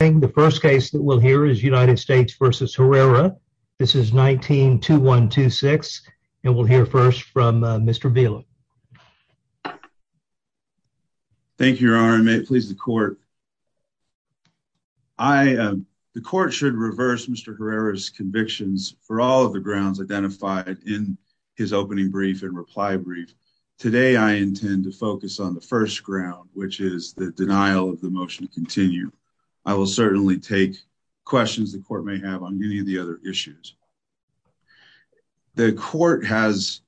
The first case that we'll hear is United States v. Herrera. This is 19-2126, and we'll hear first from Mr. Bieler. Thank you, Your Honor, and may it please the Court. The Court should reverse Mr. Herrera's convictions for all of the grounds identified in his opening brief and reply brief. Today, I intend to focus on the first ground, which will certainly take questions the Court may have on any of the other issues. The Court has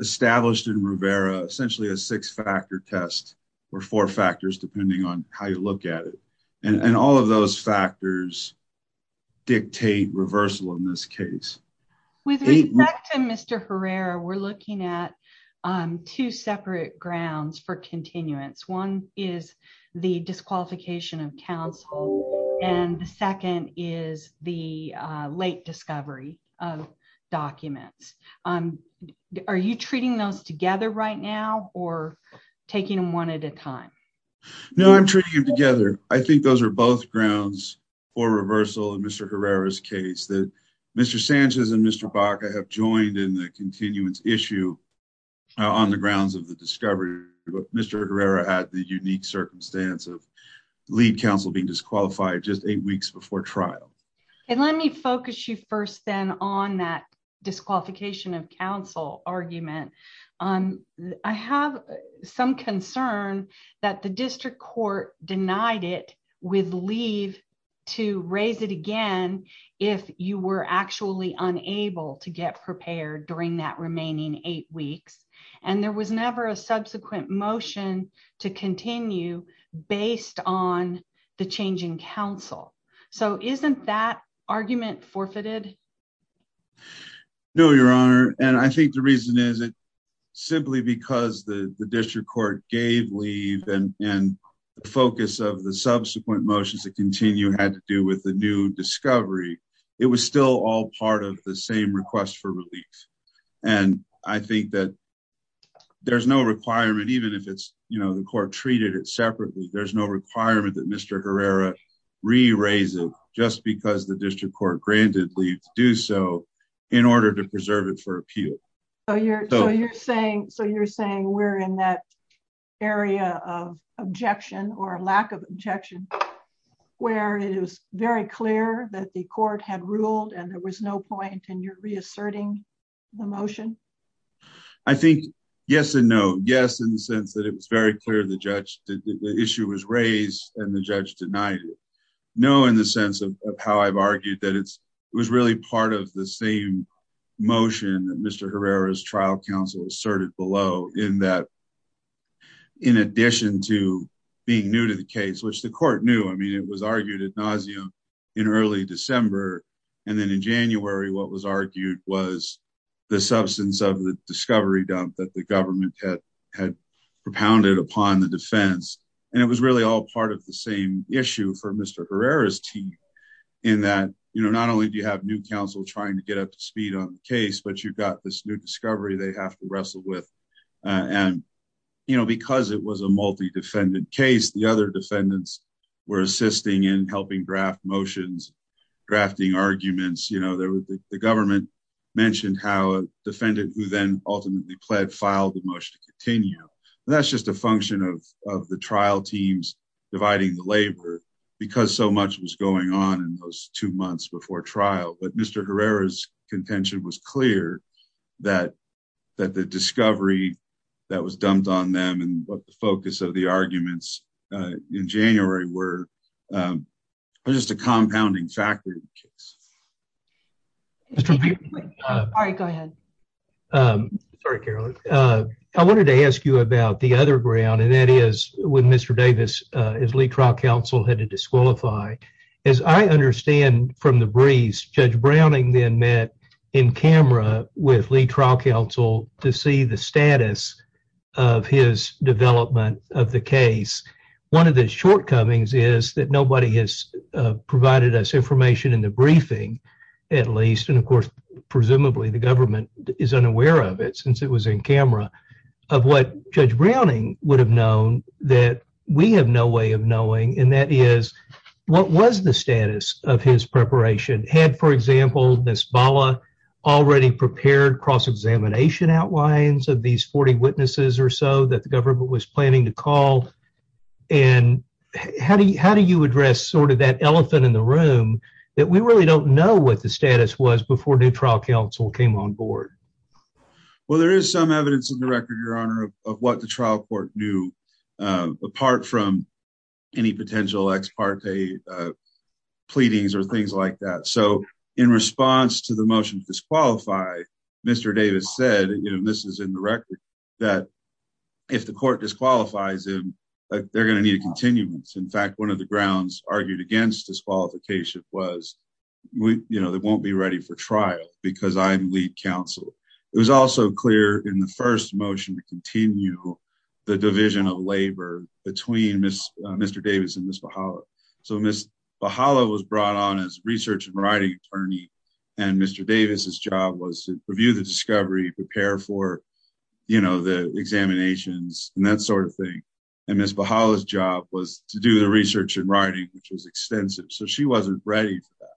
established in Herrera essentially a six-factor test, or four factors depending on how you look at it, and all of those factors dictate reversal in this case. With respect to Mr. Herrera, we're looking at two separate grounds for continuance. One is the disqualification of counsel, and the second is the late discovery of documents. Are you treating those together right now, or taking them one at a time? No, I'm treating them together. I think those are both grounds for reversal in Mr. Herrera's case that Mr. Sanchez and Mr. Baca have joined in the continuance issue on the grounds of the discovery that Mr. Herrera had the unique circumstance of lead counsel being disqualified just eight weeks before trial. Let me focus you first then on that disqualification of counsel argument. I have some concern that the District Court denied it with leave to raise it again if you were actually unable to get prepared during that remaining eight weeks, and there was never a subsequent motion to continue based on the change in counsel. So isn't that argument forfeited? No, Your Honor, and I think the reason is simply because the District Court gave leave and the focus of the subsequent motions to continue had to do with the new discovery. It was still all part of the same request for relief, and I think that there's no requirement, even if the court treated it separately, there's no requirement that Mr. Herrera re-raise it just because the District Court granted leave to do so in order to preserve it for appeal. So you're saying we're in that area of objection or lack of objection where it is very clear that the court had ruled and there was no point and you're reasserting the motion? I think yes and no. Yes, in the sense that it was very clear the issue was raised and the judge denied it. No, in the sense of how I've argued that it was really part of the same motion that Mr. Herrera's trial counsel asserted below in that in addition to being new to the case, which the court knew, it was argued ad nauseam in early December, and then in January what was argued was the substance of the discovery dump that the government had propounded upon the defense, and it was really all part of the same issue for Mr. Herrera's team in that not only do you have new counsel trying to get up to speed on the case, but you've got this new discovery they have to wrestle with, and because it was a multi-defendant case, the other defendants were assisting in helping draft motions, drafting arguments. The government mentioned how a defendant who then ultimately pled filed the motion to continue. That's just a function of the trial teams dividing the labor because so much was going on in those two months before trial, but Mr. Herrera's discovery that was dumped on them and what the focus of the arguments in January were just a compounding factor in the case. All right, go ahead. Sorry, Carolyn. I wanted to ask you about the other ground, and that is when Mr. Davis, as lead trial counsel, had to disqualify. As I understand from the briefs, Judge Browning then met in camera with lead trial counsel to see the status of his development of the case. One of the shortcomings is that nobody has provided us information in the briefing, at least, and of course presumably the government is unaware of it since it was in camera, of what Judge Browning would have known that we have no way of knowing, and that is what was the status of his preparation? Had, for example, Nisbala already prepared cross-examination outlines of these 40 witnesses or so that the government was planning to call, and how do you address sort of that elephant in the room that we really don't know what the status was before new trial counsel came on board? Well, there is some evidence in the record, your honor, of what the trial court knew apart from any potential ex parte pleadings or disqualify. Mr. Davis said, and this is in the record, that if the court disqualifies him, they're going to need a continuance. In fact, one of the grounds argued against disqualification was they won't be ready for trial because I'm lead counsel. It was also clear in the first motion to continue the division of labor between Mr. Davis and Nisbala. So, Nisbala was brought on as research and writing attorney, and Mr. Davis's job was to review the discovery, prepare for, you know, the examinations, and that sort of thing, and Ms. Bahala's job was to do the research and writing, which was extensive, so she wasn't ready for that.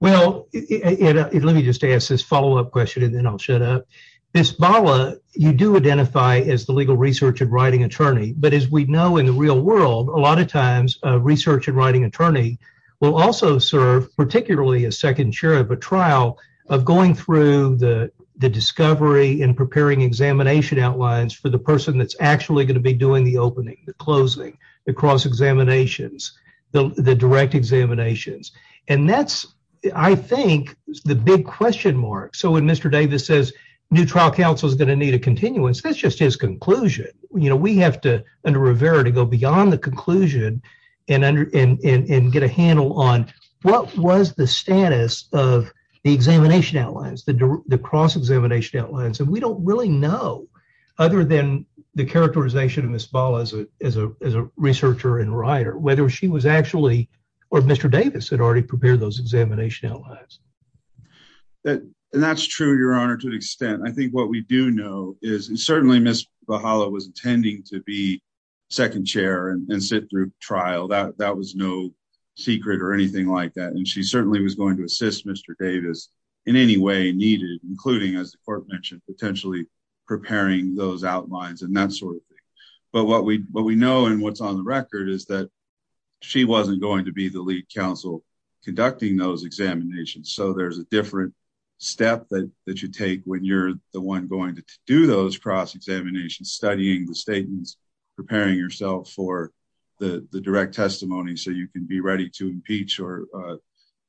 Well, let me just ask this follow-up question, and then I'll shut up. Nisbala, you do identify as the legal research and writing attorney, but as we know in the real world, a lot of times a research and writing attorney will also serve particularly as second chair of a trial of going through the discovery and preparing examination outlines for the person that's actually going to be doing the opening, the closing, the cross examinations, the direct examinations, and that's, I think, the big question mark. So, when Mr. Davis says new trial counsel is going to need a continuance, that's just his conclusion. You know, we have to, under Rivera, to go beyond the conclusion and get a handle on what was the status of the examination outlines, the cross examination outlines, and we don't really know, other than the characterization of Ms. Bahala as a researcher and writer, whether she was actually, or Mr. Davis had already prepared those examination outlines. And that's true, Your Honor, to an extent. I think what we do know is, and certainly Ms. Bahala was intending to be second chair and sit through trial. That was no secret or anything like that, and she certainly was going to assist Mr. Davis in any way needed, including, as the court mentioned, potentially preparing those outlines and that sort of thing. But what we know and what's on the record is that she wasn't going to be the lead counsel conducting those examinations. So, there's a different step that you take when you're the one going to do those cross examinations, studying the statements, preparing yourself for the direct testimony, so you can be ready to impeach or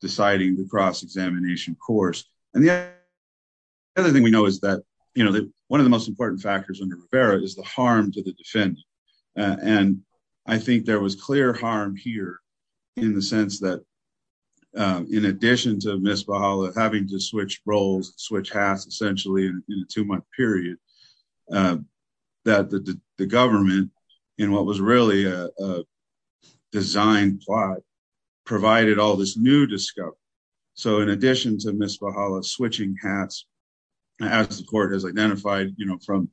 deciding the cross examination course. And the other thing we know is that, you know, one of the most important factors under Rivera is the harm to the defendant. And I think there was clear harm here, in the sense that, in addition to Ms. Bahala having to switch roles, switch hats, essentially in a two-month period, that the government, in what was really a design plot, provided all this new discovery. So, in addition to Ms. Bahala switching hats, as the court has identified, you know, from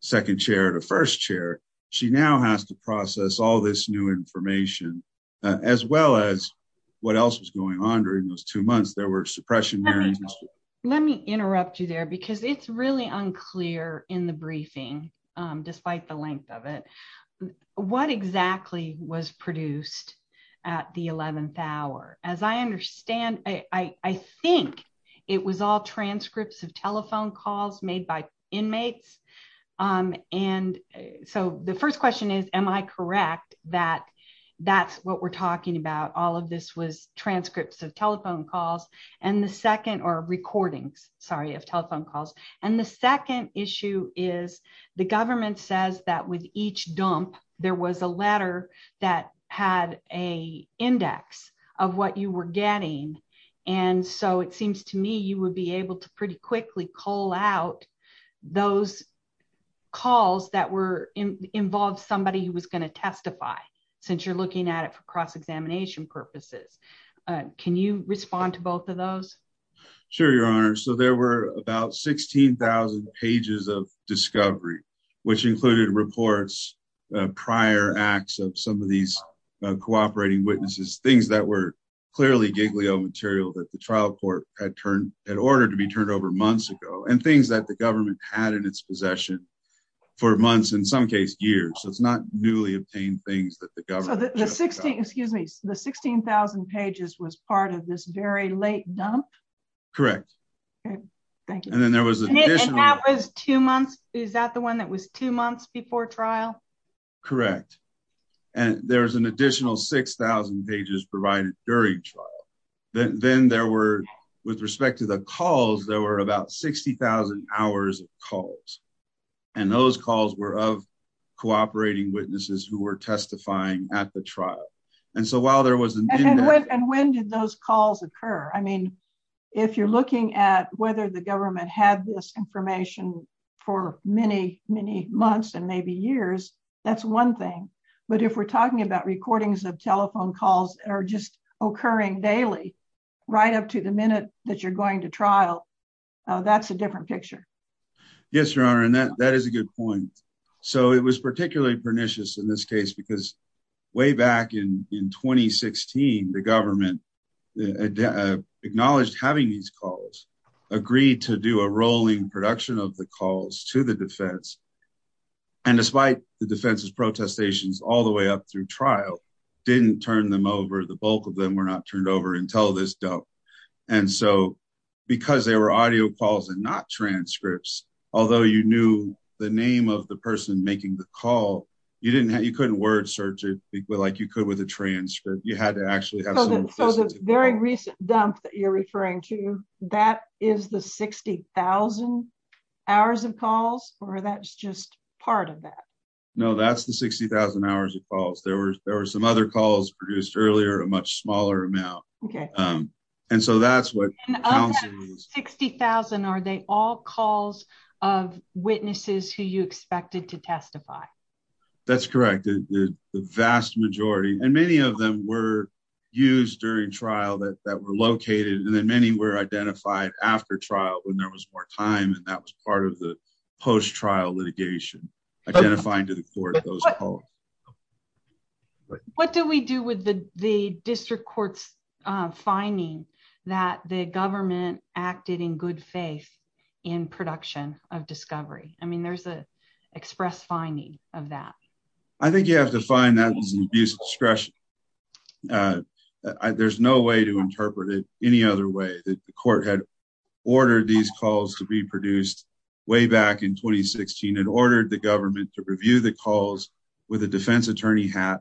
second chair to first chair, she now has to process all this new information, as well as what else was going on during those two months. There were because it's really unclear in the briefing, despite the length of it, what exactly was produced at the 11th hour. As I understand, I think it was all transcripts of telephone calls made by inmates. And so, the first question is, am I correct that that's what we're talking about? All of this was transcripts of telephone calls. And the second, or recordings, sorry, of telephone calls. And the second issue is, the government says that with each dump, there was a letter that had a index of what you were getting. And so, it seems to me, you would be able to pretty quickly call out those calls that were involved somebody who was going to testify, since you're cross-examination purposes. Can you respond to both of those? Sure, Your Honor. So, there were about 16,000 pages of discovery, which included reports, prior acts of some of these cooperating witnesses, things that were clearly Giglio material that the trial court had turned, had ordered to be turned over months ago, and things that the government had in its possession for months, in some case, years. So, it's not newly obtained things that the government. So, the 16, excuse me, the 16,000 pages was part of this very late dump? Correct. Okay, thank you. And then there was an additional. And that was two months, is that the one that was two months before trial? Correct. And there's an additional 6,000 pages provided during trial. Then there were, with respect to the calls, there were about 60,000 hours of calls. And those calls were of cooperating witnesses who were testifying at the trial. And so, while there was an. And when did those calls occur? I mean, if you're looking at whether the government had this information for many, many months, and maybe years, that's one thing. But if we're talking about recordings of that you're going to trial, that's a different picture. Yes, Your Honor. And that is a good point. So, it was particularly pernicious in this case, because way back in 2016, the government acknowledged having these calls, agreed to do a rolling production of the calls to the defense. And despite the defense's protestations all the way up through trial, didn't turn them over, the bulk of them were not turned over until this dump. And so, because they were audio calls and not transcripts, although you knew the name of the person making the call, you couldn't word search it like you could with a transcript. You had to actually have. So, the very recent dump that you're referring to, that is the 60,000 hours of calls, or that's just part of that? No, that's 60,000 hours of calls. There were some other calls produced earlier, a much smaller amount. And so, that's what counts. 60,000, are they all calls of witnesses who you expected to testify? That's correct. The vast majority, and many of them were used during trial that were located, and then many were identified after trial when there was more time, and that was part of the call. What do we do with the district court's finding that the government acted in good faith in production of discovery? I mean, there's an express finding of that. I think you have to find that as an abuse of discretion. There's no way to interpret it any other way. The court had ordered these calls to be produced way back in 2016, and ordered the government to review the with a defense attorney hat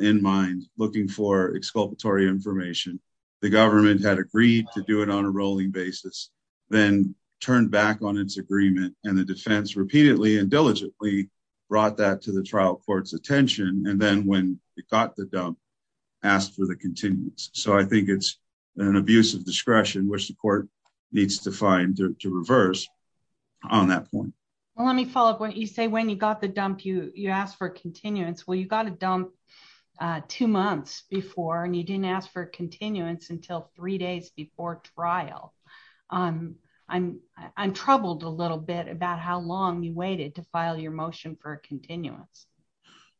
in mind, looking for exculpatory information. The government had agreed to do it on a rolling basis, then turned back on its agreement, and the defense repeatedly and diligently brought that to the trial court's attention, and then when it got the dump, asked for the continuance. So, I think it's an abuse of discretion, which the court needs to find to reverse on that point. Well, let me follow up. You say when you got the dump, you asked for continuance. Well, you got a dump two months before, and you didn't ask for continuance until three days before trial. I'm troubled a little bit about how long you waited to file your motion for continuance.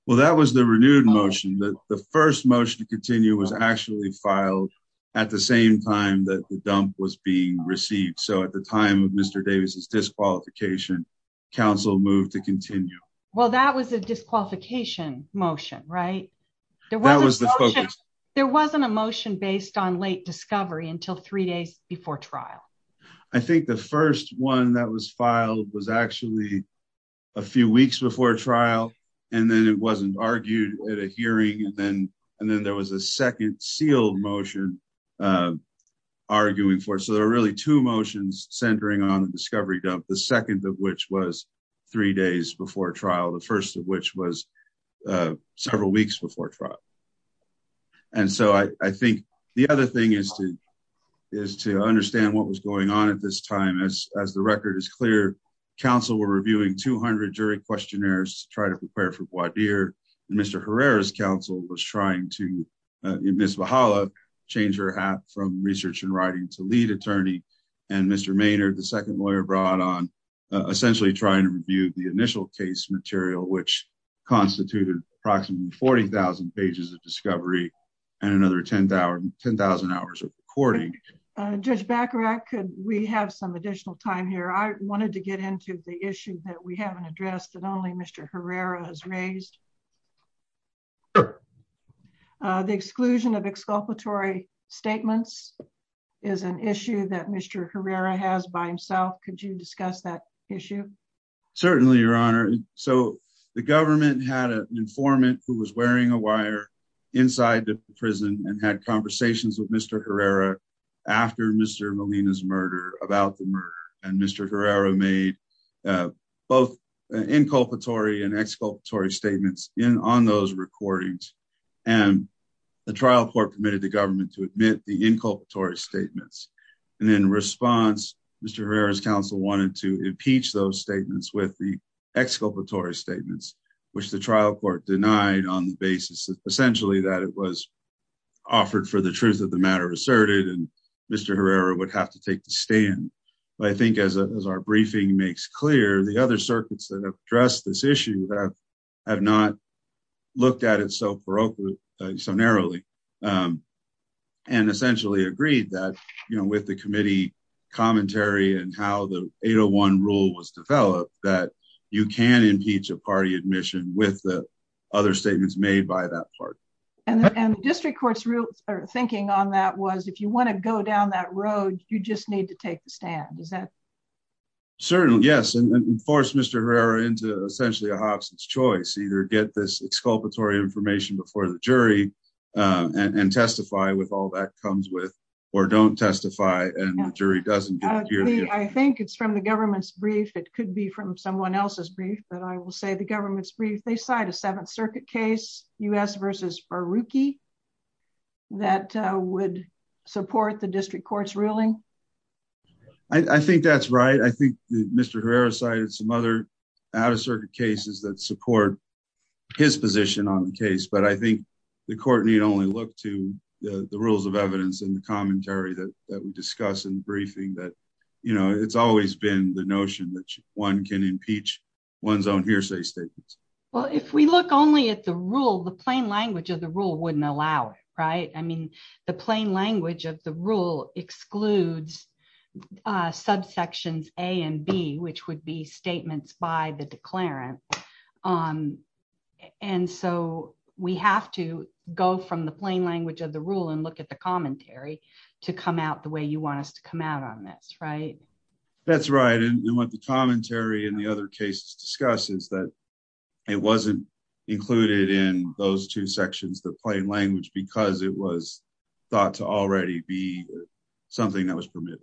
Well, that was the renewed motion. The first motion to continue was actually filed at the same time that the dump was being received. So, at the time of Mr. Davis's disqualification, counsel moved to continue. Well, that was a disqualification motion, right? There wasn't a motion based on late discovery until three days before trial. I think the first one that was filed was actually a few weeks before trial, and then it wasn't argued at a hearing, and then there was a second sealed motion arguing for it. So, there are really two motions centering on the discovery dump, the second of which was three days before trial, the first of which was several weeks before trial. And so, I think the other thing is to understand what was going on at this time. As the record is clear, counsel were reviewing 200 jury questionnaires to try to prepare for voir dire, and Mr. Herrera's counsel was trying to, Ms. Valhalla changed her hat from research and writing to lead attorney, and Mr. Maynard, the second lawyer, brought on essentially trying to review the initial case material, which constituted approximately 40,000 pages of discovery and another 10,000 hours of recording. Judge Bacharach, could we have some additional time here? I wanted to get into the issue that we haven't addressed and only Mr. Herrera has raised. The exclusion of exculpatory statements is an issue that Mr. Herrera has by himself. Could you discuss that issue? Certainly, Your Honor. So, the government had an informant who was wearing a wire inside the prison and had conversations with Mr. Herrera after Mr. Molina's murder, about the murder, and Mr. Herrera made both inculpatory and exculpatory statements on those recordings, and the trial court permitted the government to admit the inculpatory statements. In response, Mr. Herrera's counsel wanted to impeach those statements with the exculpatory statements, which the trial court denied on the basis, essentially, that it was unconstitutional. I think as our briefing makes clear, the other circuits that have addressed this issue have not looked at it so narrowly and essentially agreed that, you know, with the committee commentary and how the 801 rule was developed, that you can impeach a party admission with the other statements made by that party. And the district court's thinking on that was, if you want to go down that road, you just need to take the stand. Is that? Certainly, yes, and force Mr. Herrera into essentially a Hobson's choice, either get this exculpatory information before the jury and testify with all that comes with, or don't testify and the jury doesn't. I think it's from the government's brief. It could be from someone else's brief, but I will say the government's brief. They cite a Seventh Circuit case, U.S. Baruchi that would support the district court's ruling. I think that's right. I think Mr. Herrera cited some other out of circuit cases that support his position on the case, but I think the court need only look to the rules of evidence and the commentary that we discuss in the briefing that, you know, it's always been the notion that one can impeach one's own hearsay statements. Well, if we look only at the rule, the plain language of the rule wouldn't allow it, right? I mean, the plain language of the rule excludes subsections A and B, which would be statements by the declarant. And so we have to go from the plain language of the rule and look at the commentary to come out the way you want us to come out on this, right? That's right. And what the commentary and the other cases discuss is that it wasn't included in those two sections, the plain language, because it was thought to already be something that was permitted.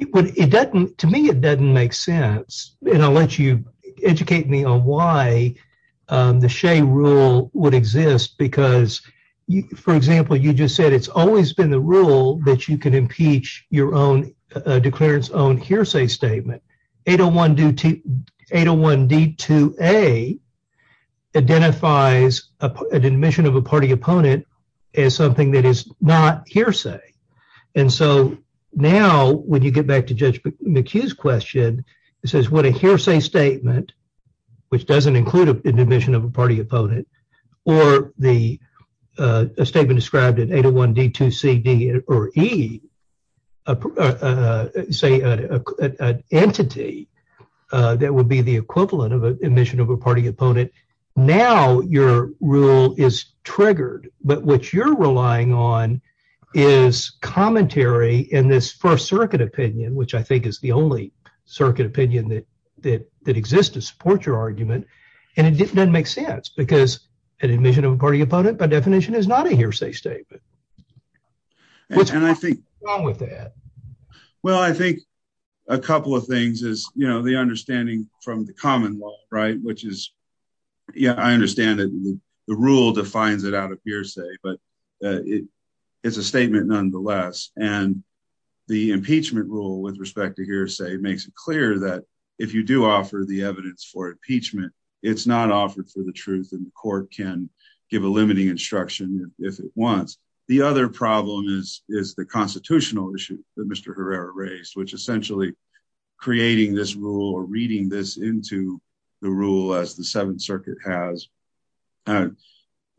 To me, it doesn't make sense. And I'll let you educate me on why the Shea rule would exist, because, for example, you just said it's always been the rule that you can impeach your own hearsay statement. 801D2A identifies an admission of a party opponent as something that is not hearsay. And so now when you get back to Judge McHugh's question, it says what a hearsay statement, which doesn't include an admission of a party opponent, or the statement described in 801D2CD or E, say an entity that would be the equivalent of an admission of a party opponent. Now your rule is triggered, but what you're relying on is commentary in this First Circuit opinion, which I think is the only circuit opinion that exists to support your argument. And it doesn't make sense because an admission of a party opponent, by definition, is not a hearsay statement. What's wrong with that? Well, I think a couple of things is, you know, the understanding from the common law, right, which is, yeah, I understand that the rule defines it out of hearsay, but it's a statement nonetheless. And the impeachment rule with respect to hearsay makes it clear that if you do offer the evidence for impeachment, it's not offered for the truth, the court can give a limiting instruction if it wants. The other problem is the constitutional issue that Mr. Herrera raised, which essentially creating this rule or reading this into the rule as the Seventh Circuit has,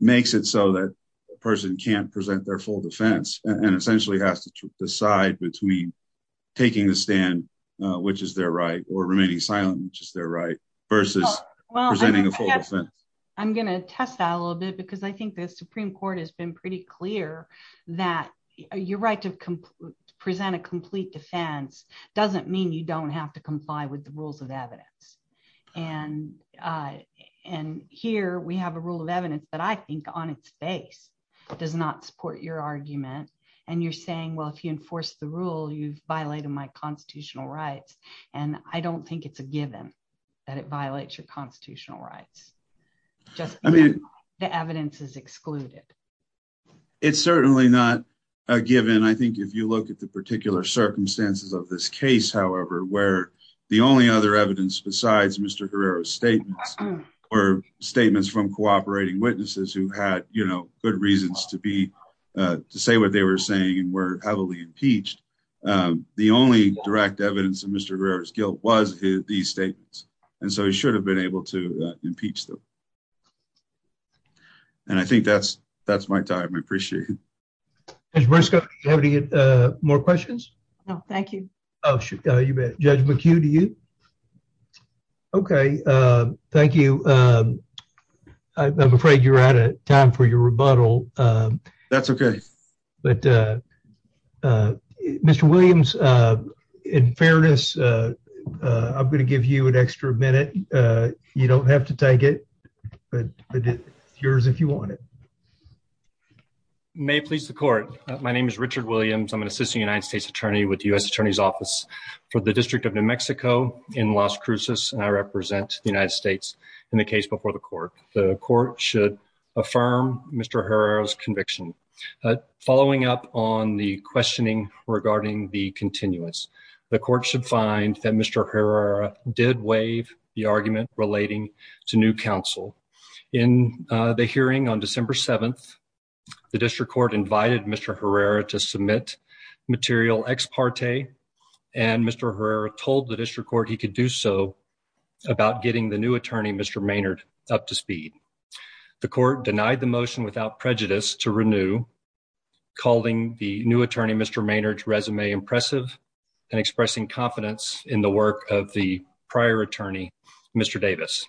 makes it so that a person can't present their full defense and essentially has to decide between taking the stand, which is their right, or remaining silent, which is their right versus presenting a full defense. I'm going to test that a little bit because I think the Supreme Court has been pretty clear that your right to present a complete defense doesn't mean you don't have to comply with the rules of evidence. And here we have a rule of evidence that I think on its face does not support your argument. And you're saying, well, if you enforce the rule, you've violated my constitutional rights. And I don't think it's given that it violates your constitutional rights. I mean, the evidence is excluded. It's certainly not a given. I think if you look at the particular circumstances of this case, however, where the only other evidence besides Mr. Herrera's statements or statements from cooperating witnesses who had good reasons to say what they were saying and were heavily impeached, the only direct evidence of Mr. Herrera's guilt was these statements. And so he should have been able to impeach them. And I think that's my time. I appreciate it. Judge Briscoe, do you have any more questions? No, thank you. Oh, you bet. Judge McHugh, do you? Okay. Thank you. I'm afraid you're out of time for your rebuttal. That's okay. But Mr. Williams, in fairness, I'm going to give you an extra minute. You don't have to take it, but it's yours if you want it. May it please the court. My name is Richard Williams. I'm an assistant United States attorney with the U.S. Attorney's Office for the District of New Mexico in Las Cruces. And I represent the United States in the case before the court. The court should affirm Mr. Herrera's following up on the questioning regarding the continuous. The court should find that Mr. Herrera did waive the argument relating to new counsel. In the hearing on December 7th, the district court invited Mr. Herrera to submit material ex parte, and Mr. Herrera told the district court he could do so about getting the new attorney, Mr. Maynard, up to speed. The court denied the motion without prejudice to renew, calling the new attorney, Mr. Maynard's resume impressive and expressing confidence in the work of the prior attorney, Mr. Davis.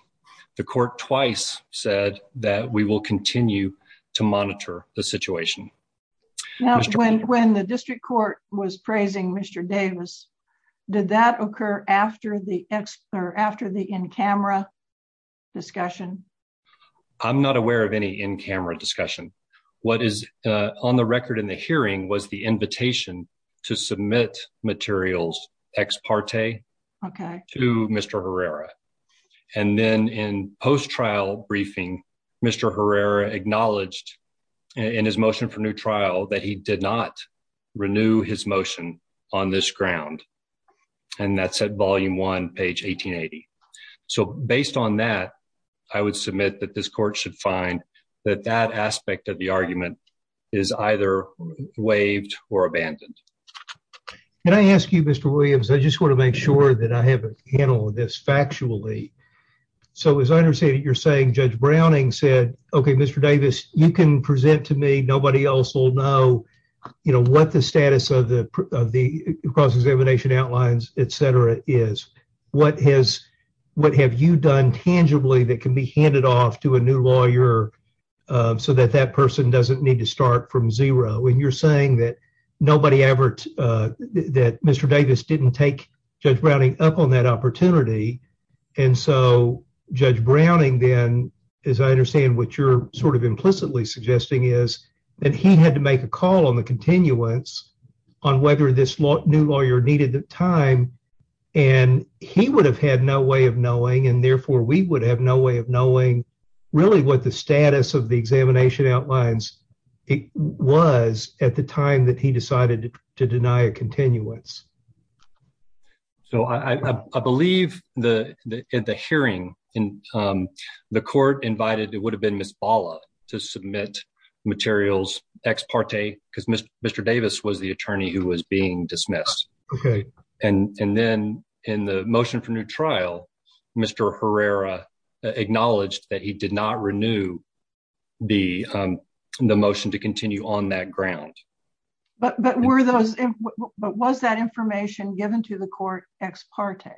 The court twice said that we will continue to monitor the situation. When the district court was praising Mr. Davis, did that occur after the in-camera discussion? I'm not aware of any in-camera discussion. What is on the record in the hearing was the invitation to submit materials ex parte to Mr. Herrera. And then in post-trial briefing, Mr. Herrera acknowledged in his motion for new trial that he did not renew his motion on this ground. And that's at volume one, page 1880. So based on that, I would submit that this court should find that that aspect of the argument is either waived or abandoned. Can I ask you, Mr. Williams, I just want to make sure that I have a handle on this factually. So as I understand it, you're saying Judge Browning said, okay, Mr. Davis, you can present to me. Nobody else will know, you know, what the status of the cross-examination outlines, et cetera, is. What have you done tangibly that can be handed off to a new lawyer so that that person doesn't need to start from zero? And you're saying that nobody ever, that Mr. Davis didn't take Judge Browning up on that opportunity. And so Judge Browning then, as I understand what you're sort of implicitly suggesting is, that he had to make a call on the continuance on whether this new lawyer needed the time. And he would have had no way of knowing, and therefore we would have no way of knowing really what the status of the examination outlines was at the time that he decided to deny a continuance. So I believe the hearing in the court invited, it would have been Ms. Bala to submit materials ex parte because Mr. Davis was the attorney who was being dismissed. And then in the motion for new trial, Mr. Herrera acknowledged that he did not renew the motion to continue on that ground. But were those, but was that information given to the court ex parte?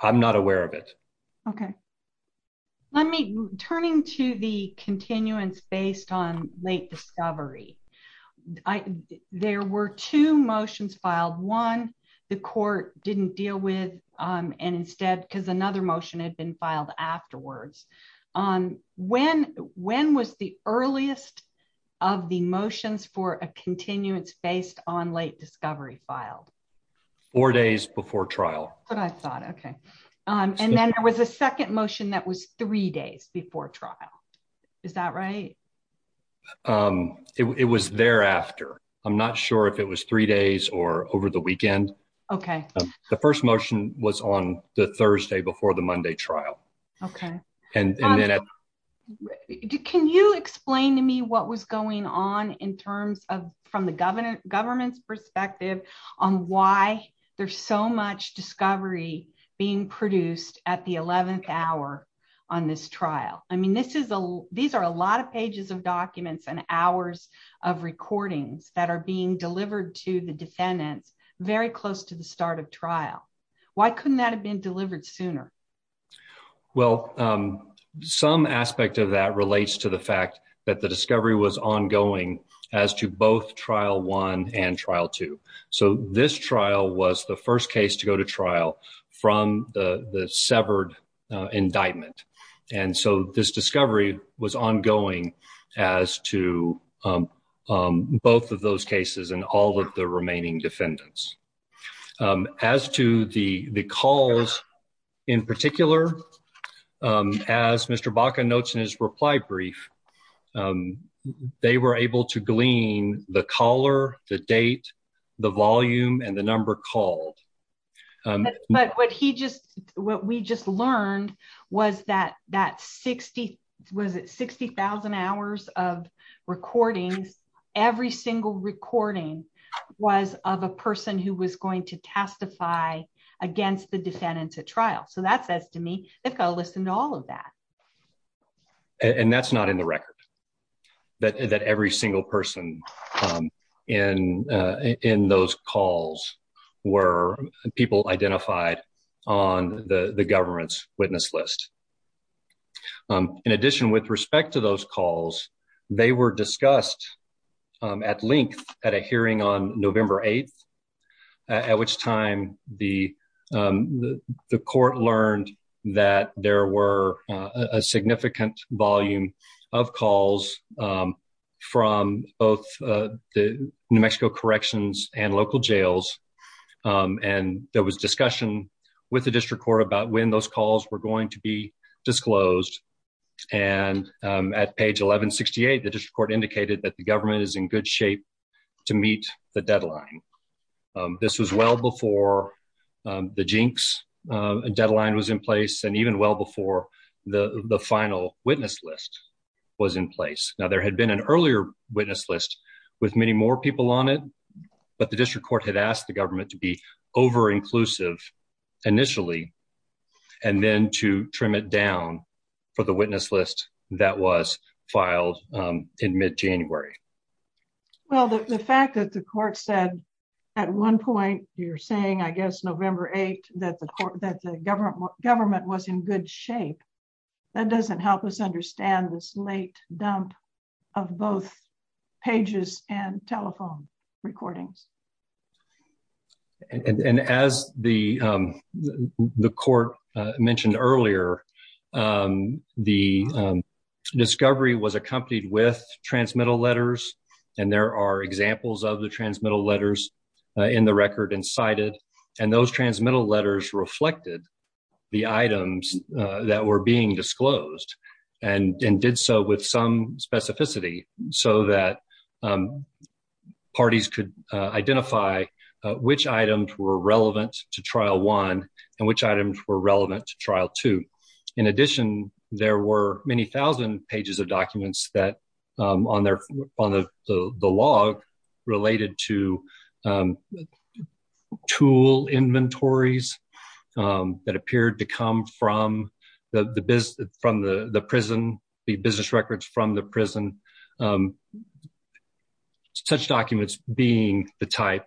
I'm not aware of it. Okay. Let me, turning to the continuance based on late discovery, there were two motions filed. One, the court didn't deal with and instead, because another motion had been filed afterwards. On when, when was the earliest of the motions for a continuance based on late discovery filed? Four days before trial. But I thought, okay. And then there was a second motion that was three days before trial. Is that right? It was thereafter. I'm not sure if it was three days or over the weekend. Okay. The first motion was on the Thursday before the Monday trial. Okay. And then. Can you explain to me what was going on in terms of, from the government, government's perspective on why there's so much discovery being produced at the 11th hour on this trial? I mean, this is a, these are a lot of pages of documents and hours of recordings that are being delivered to the defendants very close to the start of trial. Why couldn't that have been delivered sooner? Well, some aspect of that relates to the fact that the discovery was ongoing as to both trial one and trial two. So this trial was the first case to go to trial from the severed indictment. And so this discovery was ongoing as to both of those cases and all of the remaining defendants. As to the calls in particular, as Mr. Baca notes in his reply brief, they were able to glean the caller, the date, the volume, and the number called. But what he just, what we just learned was that that 60, was it 60,000 hours of recordings, every single recording was of a person who was going to testify against the defendants at trial. So that says to me, they've got to listen to all of that. And that's not in the record, that every single person in those calls were people identified on the government's witness list. In addition, with respect to those calls, they were discussed at length at a hearing on November 8th, at which time the court learned that there were a significant volume of calls from both the New Mexico corrections and local jails. And there was discussion with the district court about when those calls were going to be disclosed. And at page 1168, the district court indicated that the government is in good shape to meet the deadline. This was well before the jinx deadline was in place and even well before the final witness list was in place. Now there had been an earlier witness list with many more people on it, but the district court had asked the government to be over-inclusive initially and then to trim it down for the witness list that was filed in mid-January. Well, the fact that the court said at one point, you're saying, I guess, November 8th, that the government was in good shape, that doesn't help us understand this late dump of both pages and telephone recordings. And as the court mentioned earlier, the discovery was accompanied with transmittal letters. And there are examples of the transmittal letters in the record and cited. And those transmittal letters reflected the items that were being disclosed and did so with some specificity so that parties could identify which items were relevant to Trial 1 and which items were relevant to Trial 2. In addition, there were many thousand pages of documents that on the log related to tool inventories that appeared to come from the business records from the prison. Such documents being the type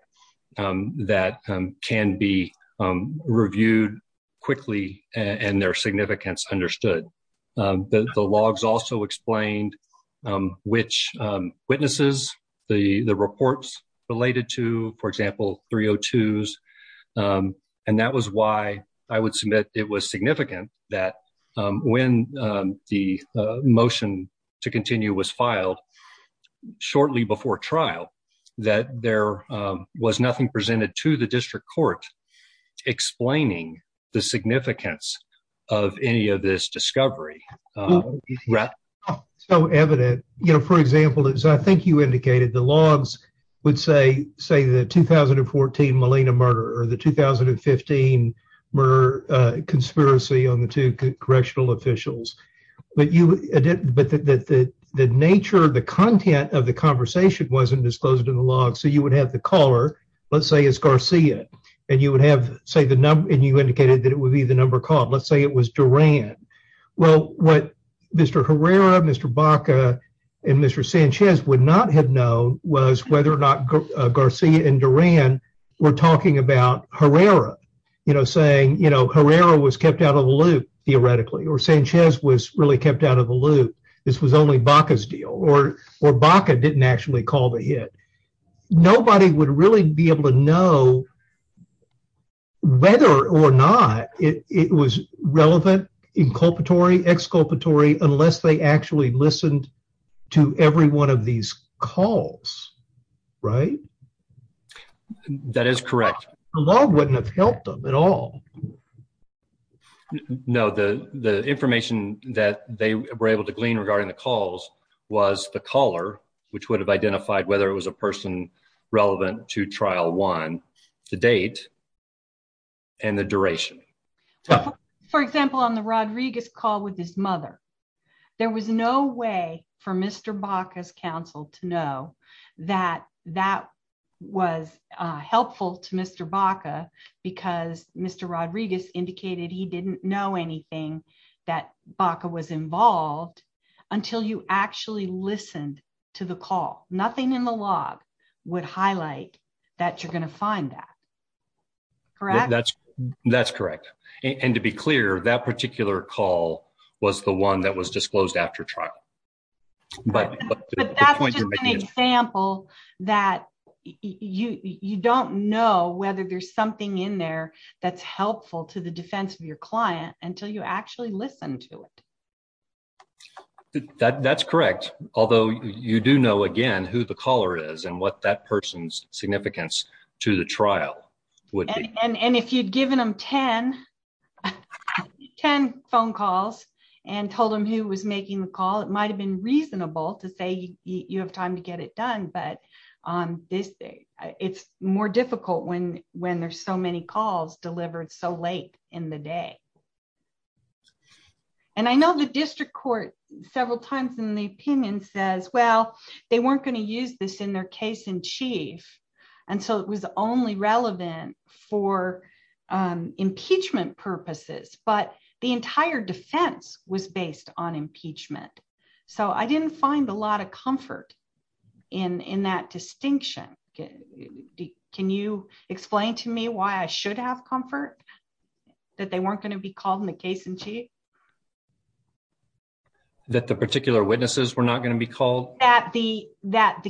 that can be reviewed quickly and their significance understood. The logs also explained which witnesses the reports related to, for example, 302s. And that was why I would submit it was significant that when the motion to continue was filed shortly before trial, that there was nothing presented to the district court explaining the significance of any of this discovery. So evident, you know, for example, as I think you indicated, the logs would say, say the 2014 Molina murder or the 2015 murder conspiracy on the two correctional officials. But the nature, the content of the conversation wasn't disclosed in the logs. So you would have the caller, let's say it's Garcia, and you would have, say the number, and you indicated that it would be the number called. Let's say it was Duran. Well, what Mr. Herrera, Mr. Baca, and Mr. Sanchez would not have known was whether or not Garcia and Duran were talking about Herrera, you know, saying, you know, Herrera was kept out of the loop, theoretically, or Sanchez was really kept out of the loop. This was only Baca's deal, or Baca didn't actually call the hit. Nobody would really be able to know whether or not it was relevant, inculpatory, exculpatory, unless they actually listened to every one of these calls, right? That is correct. The log wouldn't have helped them at all. No, the information that they were able to glean regarding the calls was the caller, which would have identified whether it was a person relevant to trial one, the date, and the duration. For example, on the Rodriguez call with his mother, there was no way for Mr. Baca's counsel to know that that was helpful to Mr. Baca because Mr. Rodriguez indicated he didn't know anything that Baca was involved until you actually listened to the call. Nothing in the log would highlight that you're going to find that, correct? That's correct, and to be clear, that particular call was the one that was disclosed after trial. But that's just an example that you don't know whether there's something in there that's helpful to the defense of your client until you actually listen to it. That's correct, although you do know, again, who the caller is and what that person's significance to the trial would be. And if you'd given them 10 phone calls and told them who was making the call, it might have been reasonable to say you have time to get it done, but it's more difficult when there's so many calls delivered so late in the day. And I know the district court several times in the opinion says, well, they weren't going to use this in their case in chief, and so it was only relevant for impeachment purposes, but the entire defense was based on impeachment. So I didn't find a lot of that they weren't going to be called in the case in chief. That the particular witnesses were not going to be called? That the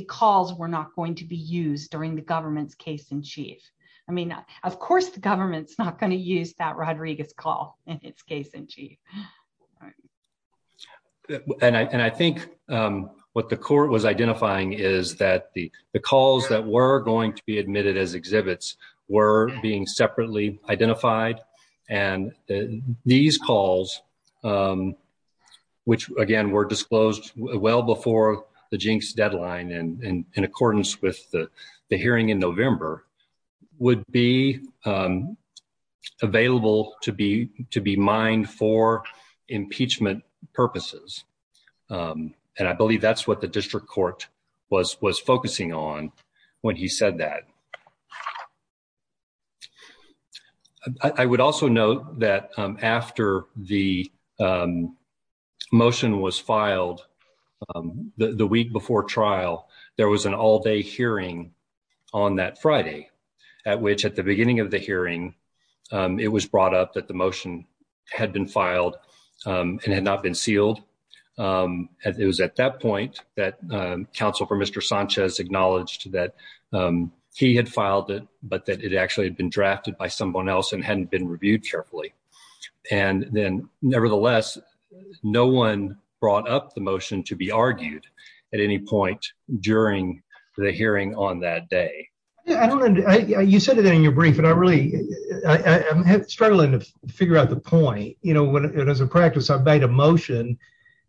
calls were not going to be used during the government's case in chief. I mean, of course the government's not going to use that Rodriguez call in its case in chief. And I think what the court was identifying is that the calls that were going to be admitted as exhibits were being separately identified. And these calls, which again were disclosed well before the jinx deadline and in accordance with the hearing in November, would be available to be mined for impeachment purposes. And I believe that's what the district court was focusing on when he said that. I would also note that after the motion was filed the week before trial, there was an all day hearing on that Friday at which at the beginning of the hearing, it was brought up that the motion had been filed and had not been sealed. It was at that point that counsel for Mr. Sanchez acknowledged that he had filed it, but that it actually had been drafted by someone else and hadn't been reviewed carefully. And then nevertheless, no one brought up the motion to be argued at any point during the hearing on that day. I don't know. You said it in your brief, and I really I'm struggling to figure out the point. You know, when, as a practice, I made a motion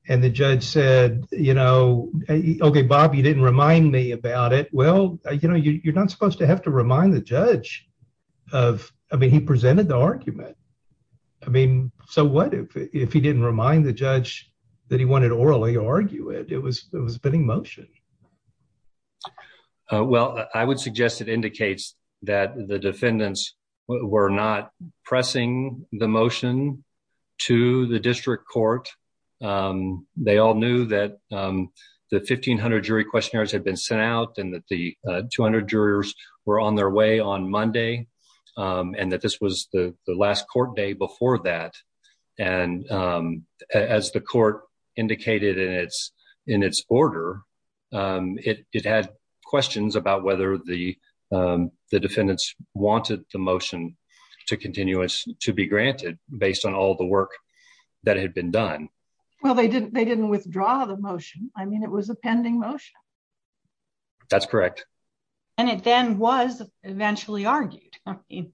and the judge said, you know, okay, Bobby didn't remind me about it. Well, you know, you're not supposed to have to remind the judge of I mean, he presented the argument. I mean, so what if he didn't remind the judge that he wanted to orally argue it? It was it was a bidding motion. Well, I would suggest it indicates that the defendants were not pressing the motion to the district court. They all knew that the 1500 jury questionnaires had been sent out and that the 200 jurors were on their way on Monday and that this was the last court day before that. And as the court indicated in its in its order, it had questions about whether the defendants wanted the motion to continue to be granted based on all the work that had been done. Well, they didn't they didn't withdraw the motion. I mean, it was a pending motion. That's correct. And it then was eventually argued. I mean,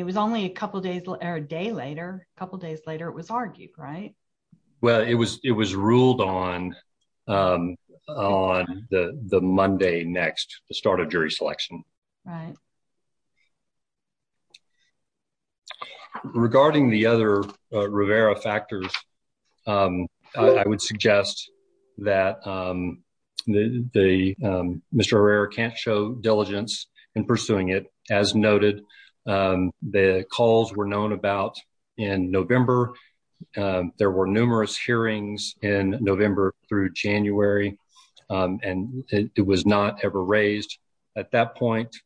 it was only a couple of days or a day later, a couple of days later, it was argued, right? Well, it was it was ruled on on the Monday next the start of jury selection. Right. Regarding the other Rivera factors, I would suggest that the Mr. Herrera can't show in pursuing it. As noted, the calls were known about in November. There were numerous hearings in November through January, and it was not ever raised at that point.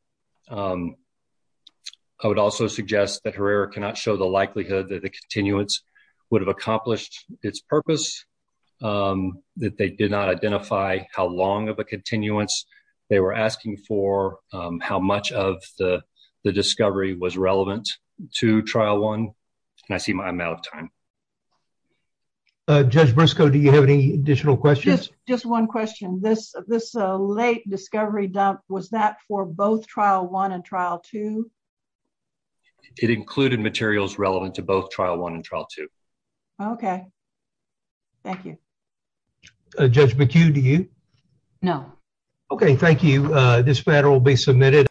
I would also suggest that Herrera cannot show the likelihood that the continuance would have accomplished its purpose, that they did not identify how long of a continuance they were asking for, how much of the discovery was relevant to trial one. And I see my amount of time. Judge Briscoe, do you have any additional questions? Just one question. This this late discovery dump was that for both trial one and trial two? It included materials relevant to both trial one and trial two. Okay. Thank you. Judge McHugh, do you? No. Okay. Thank you. This matter will be submitted.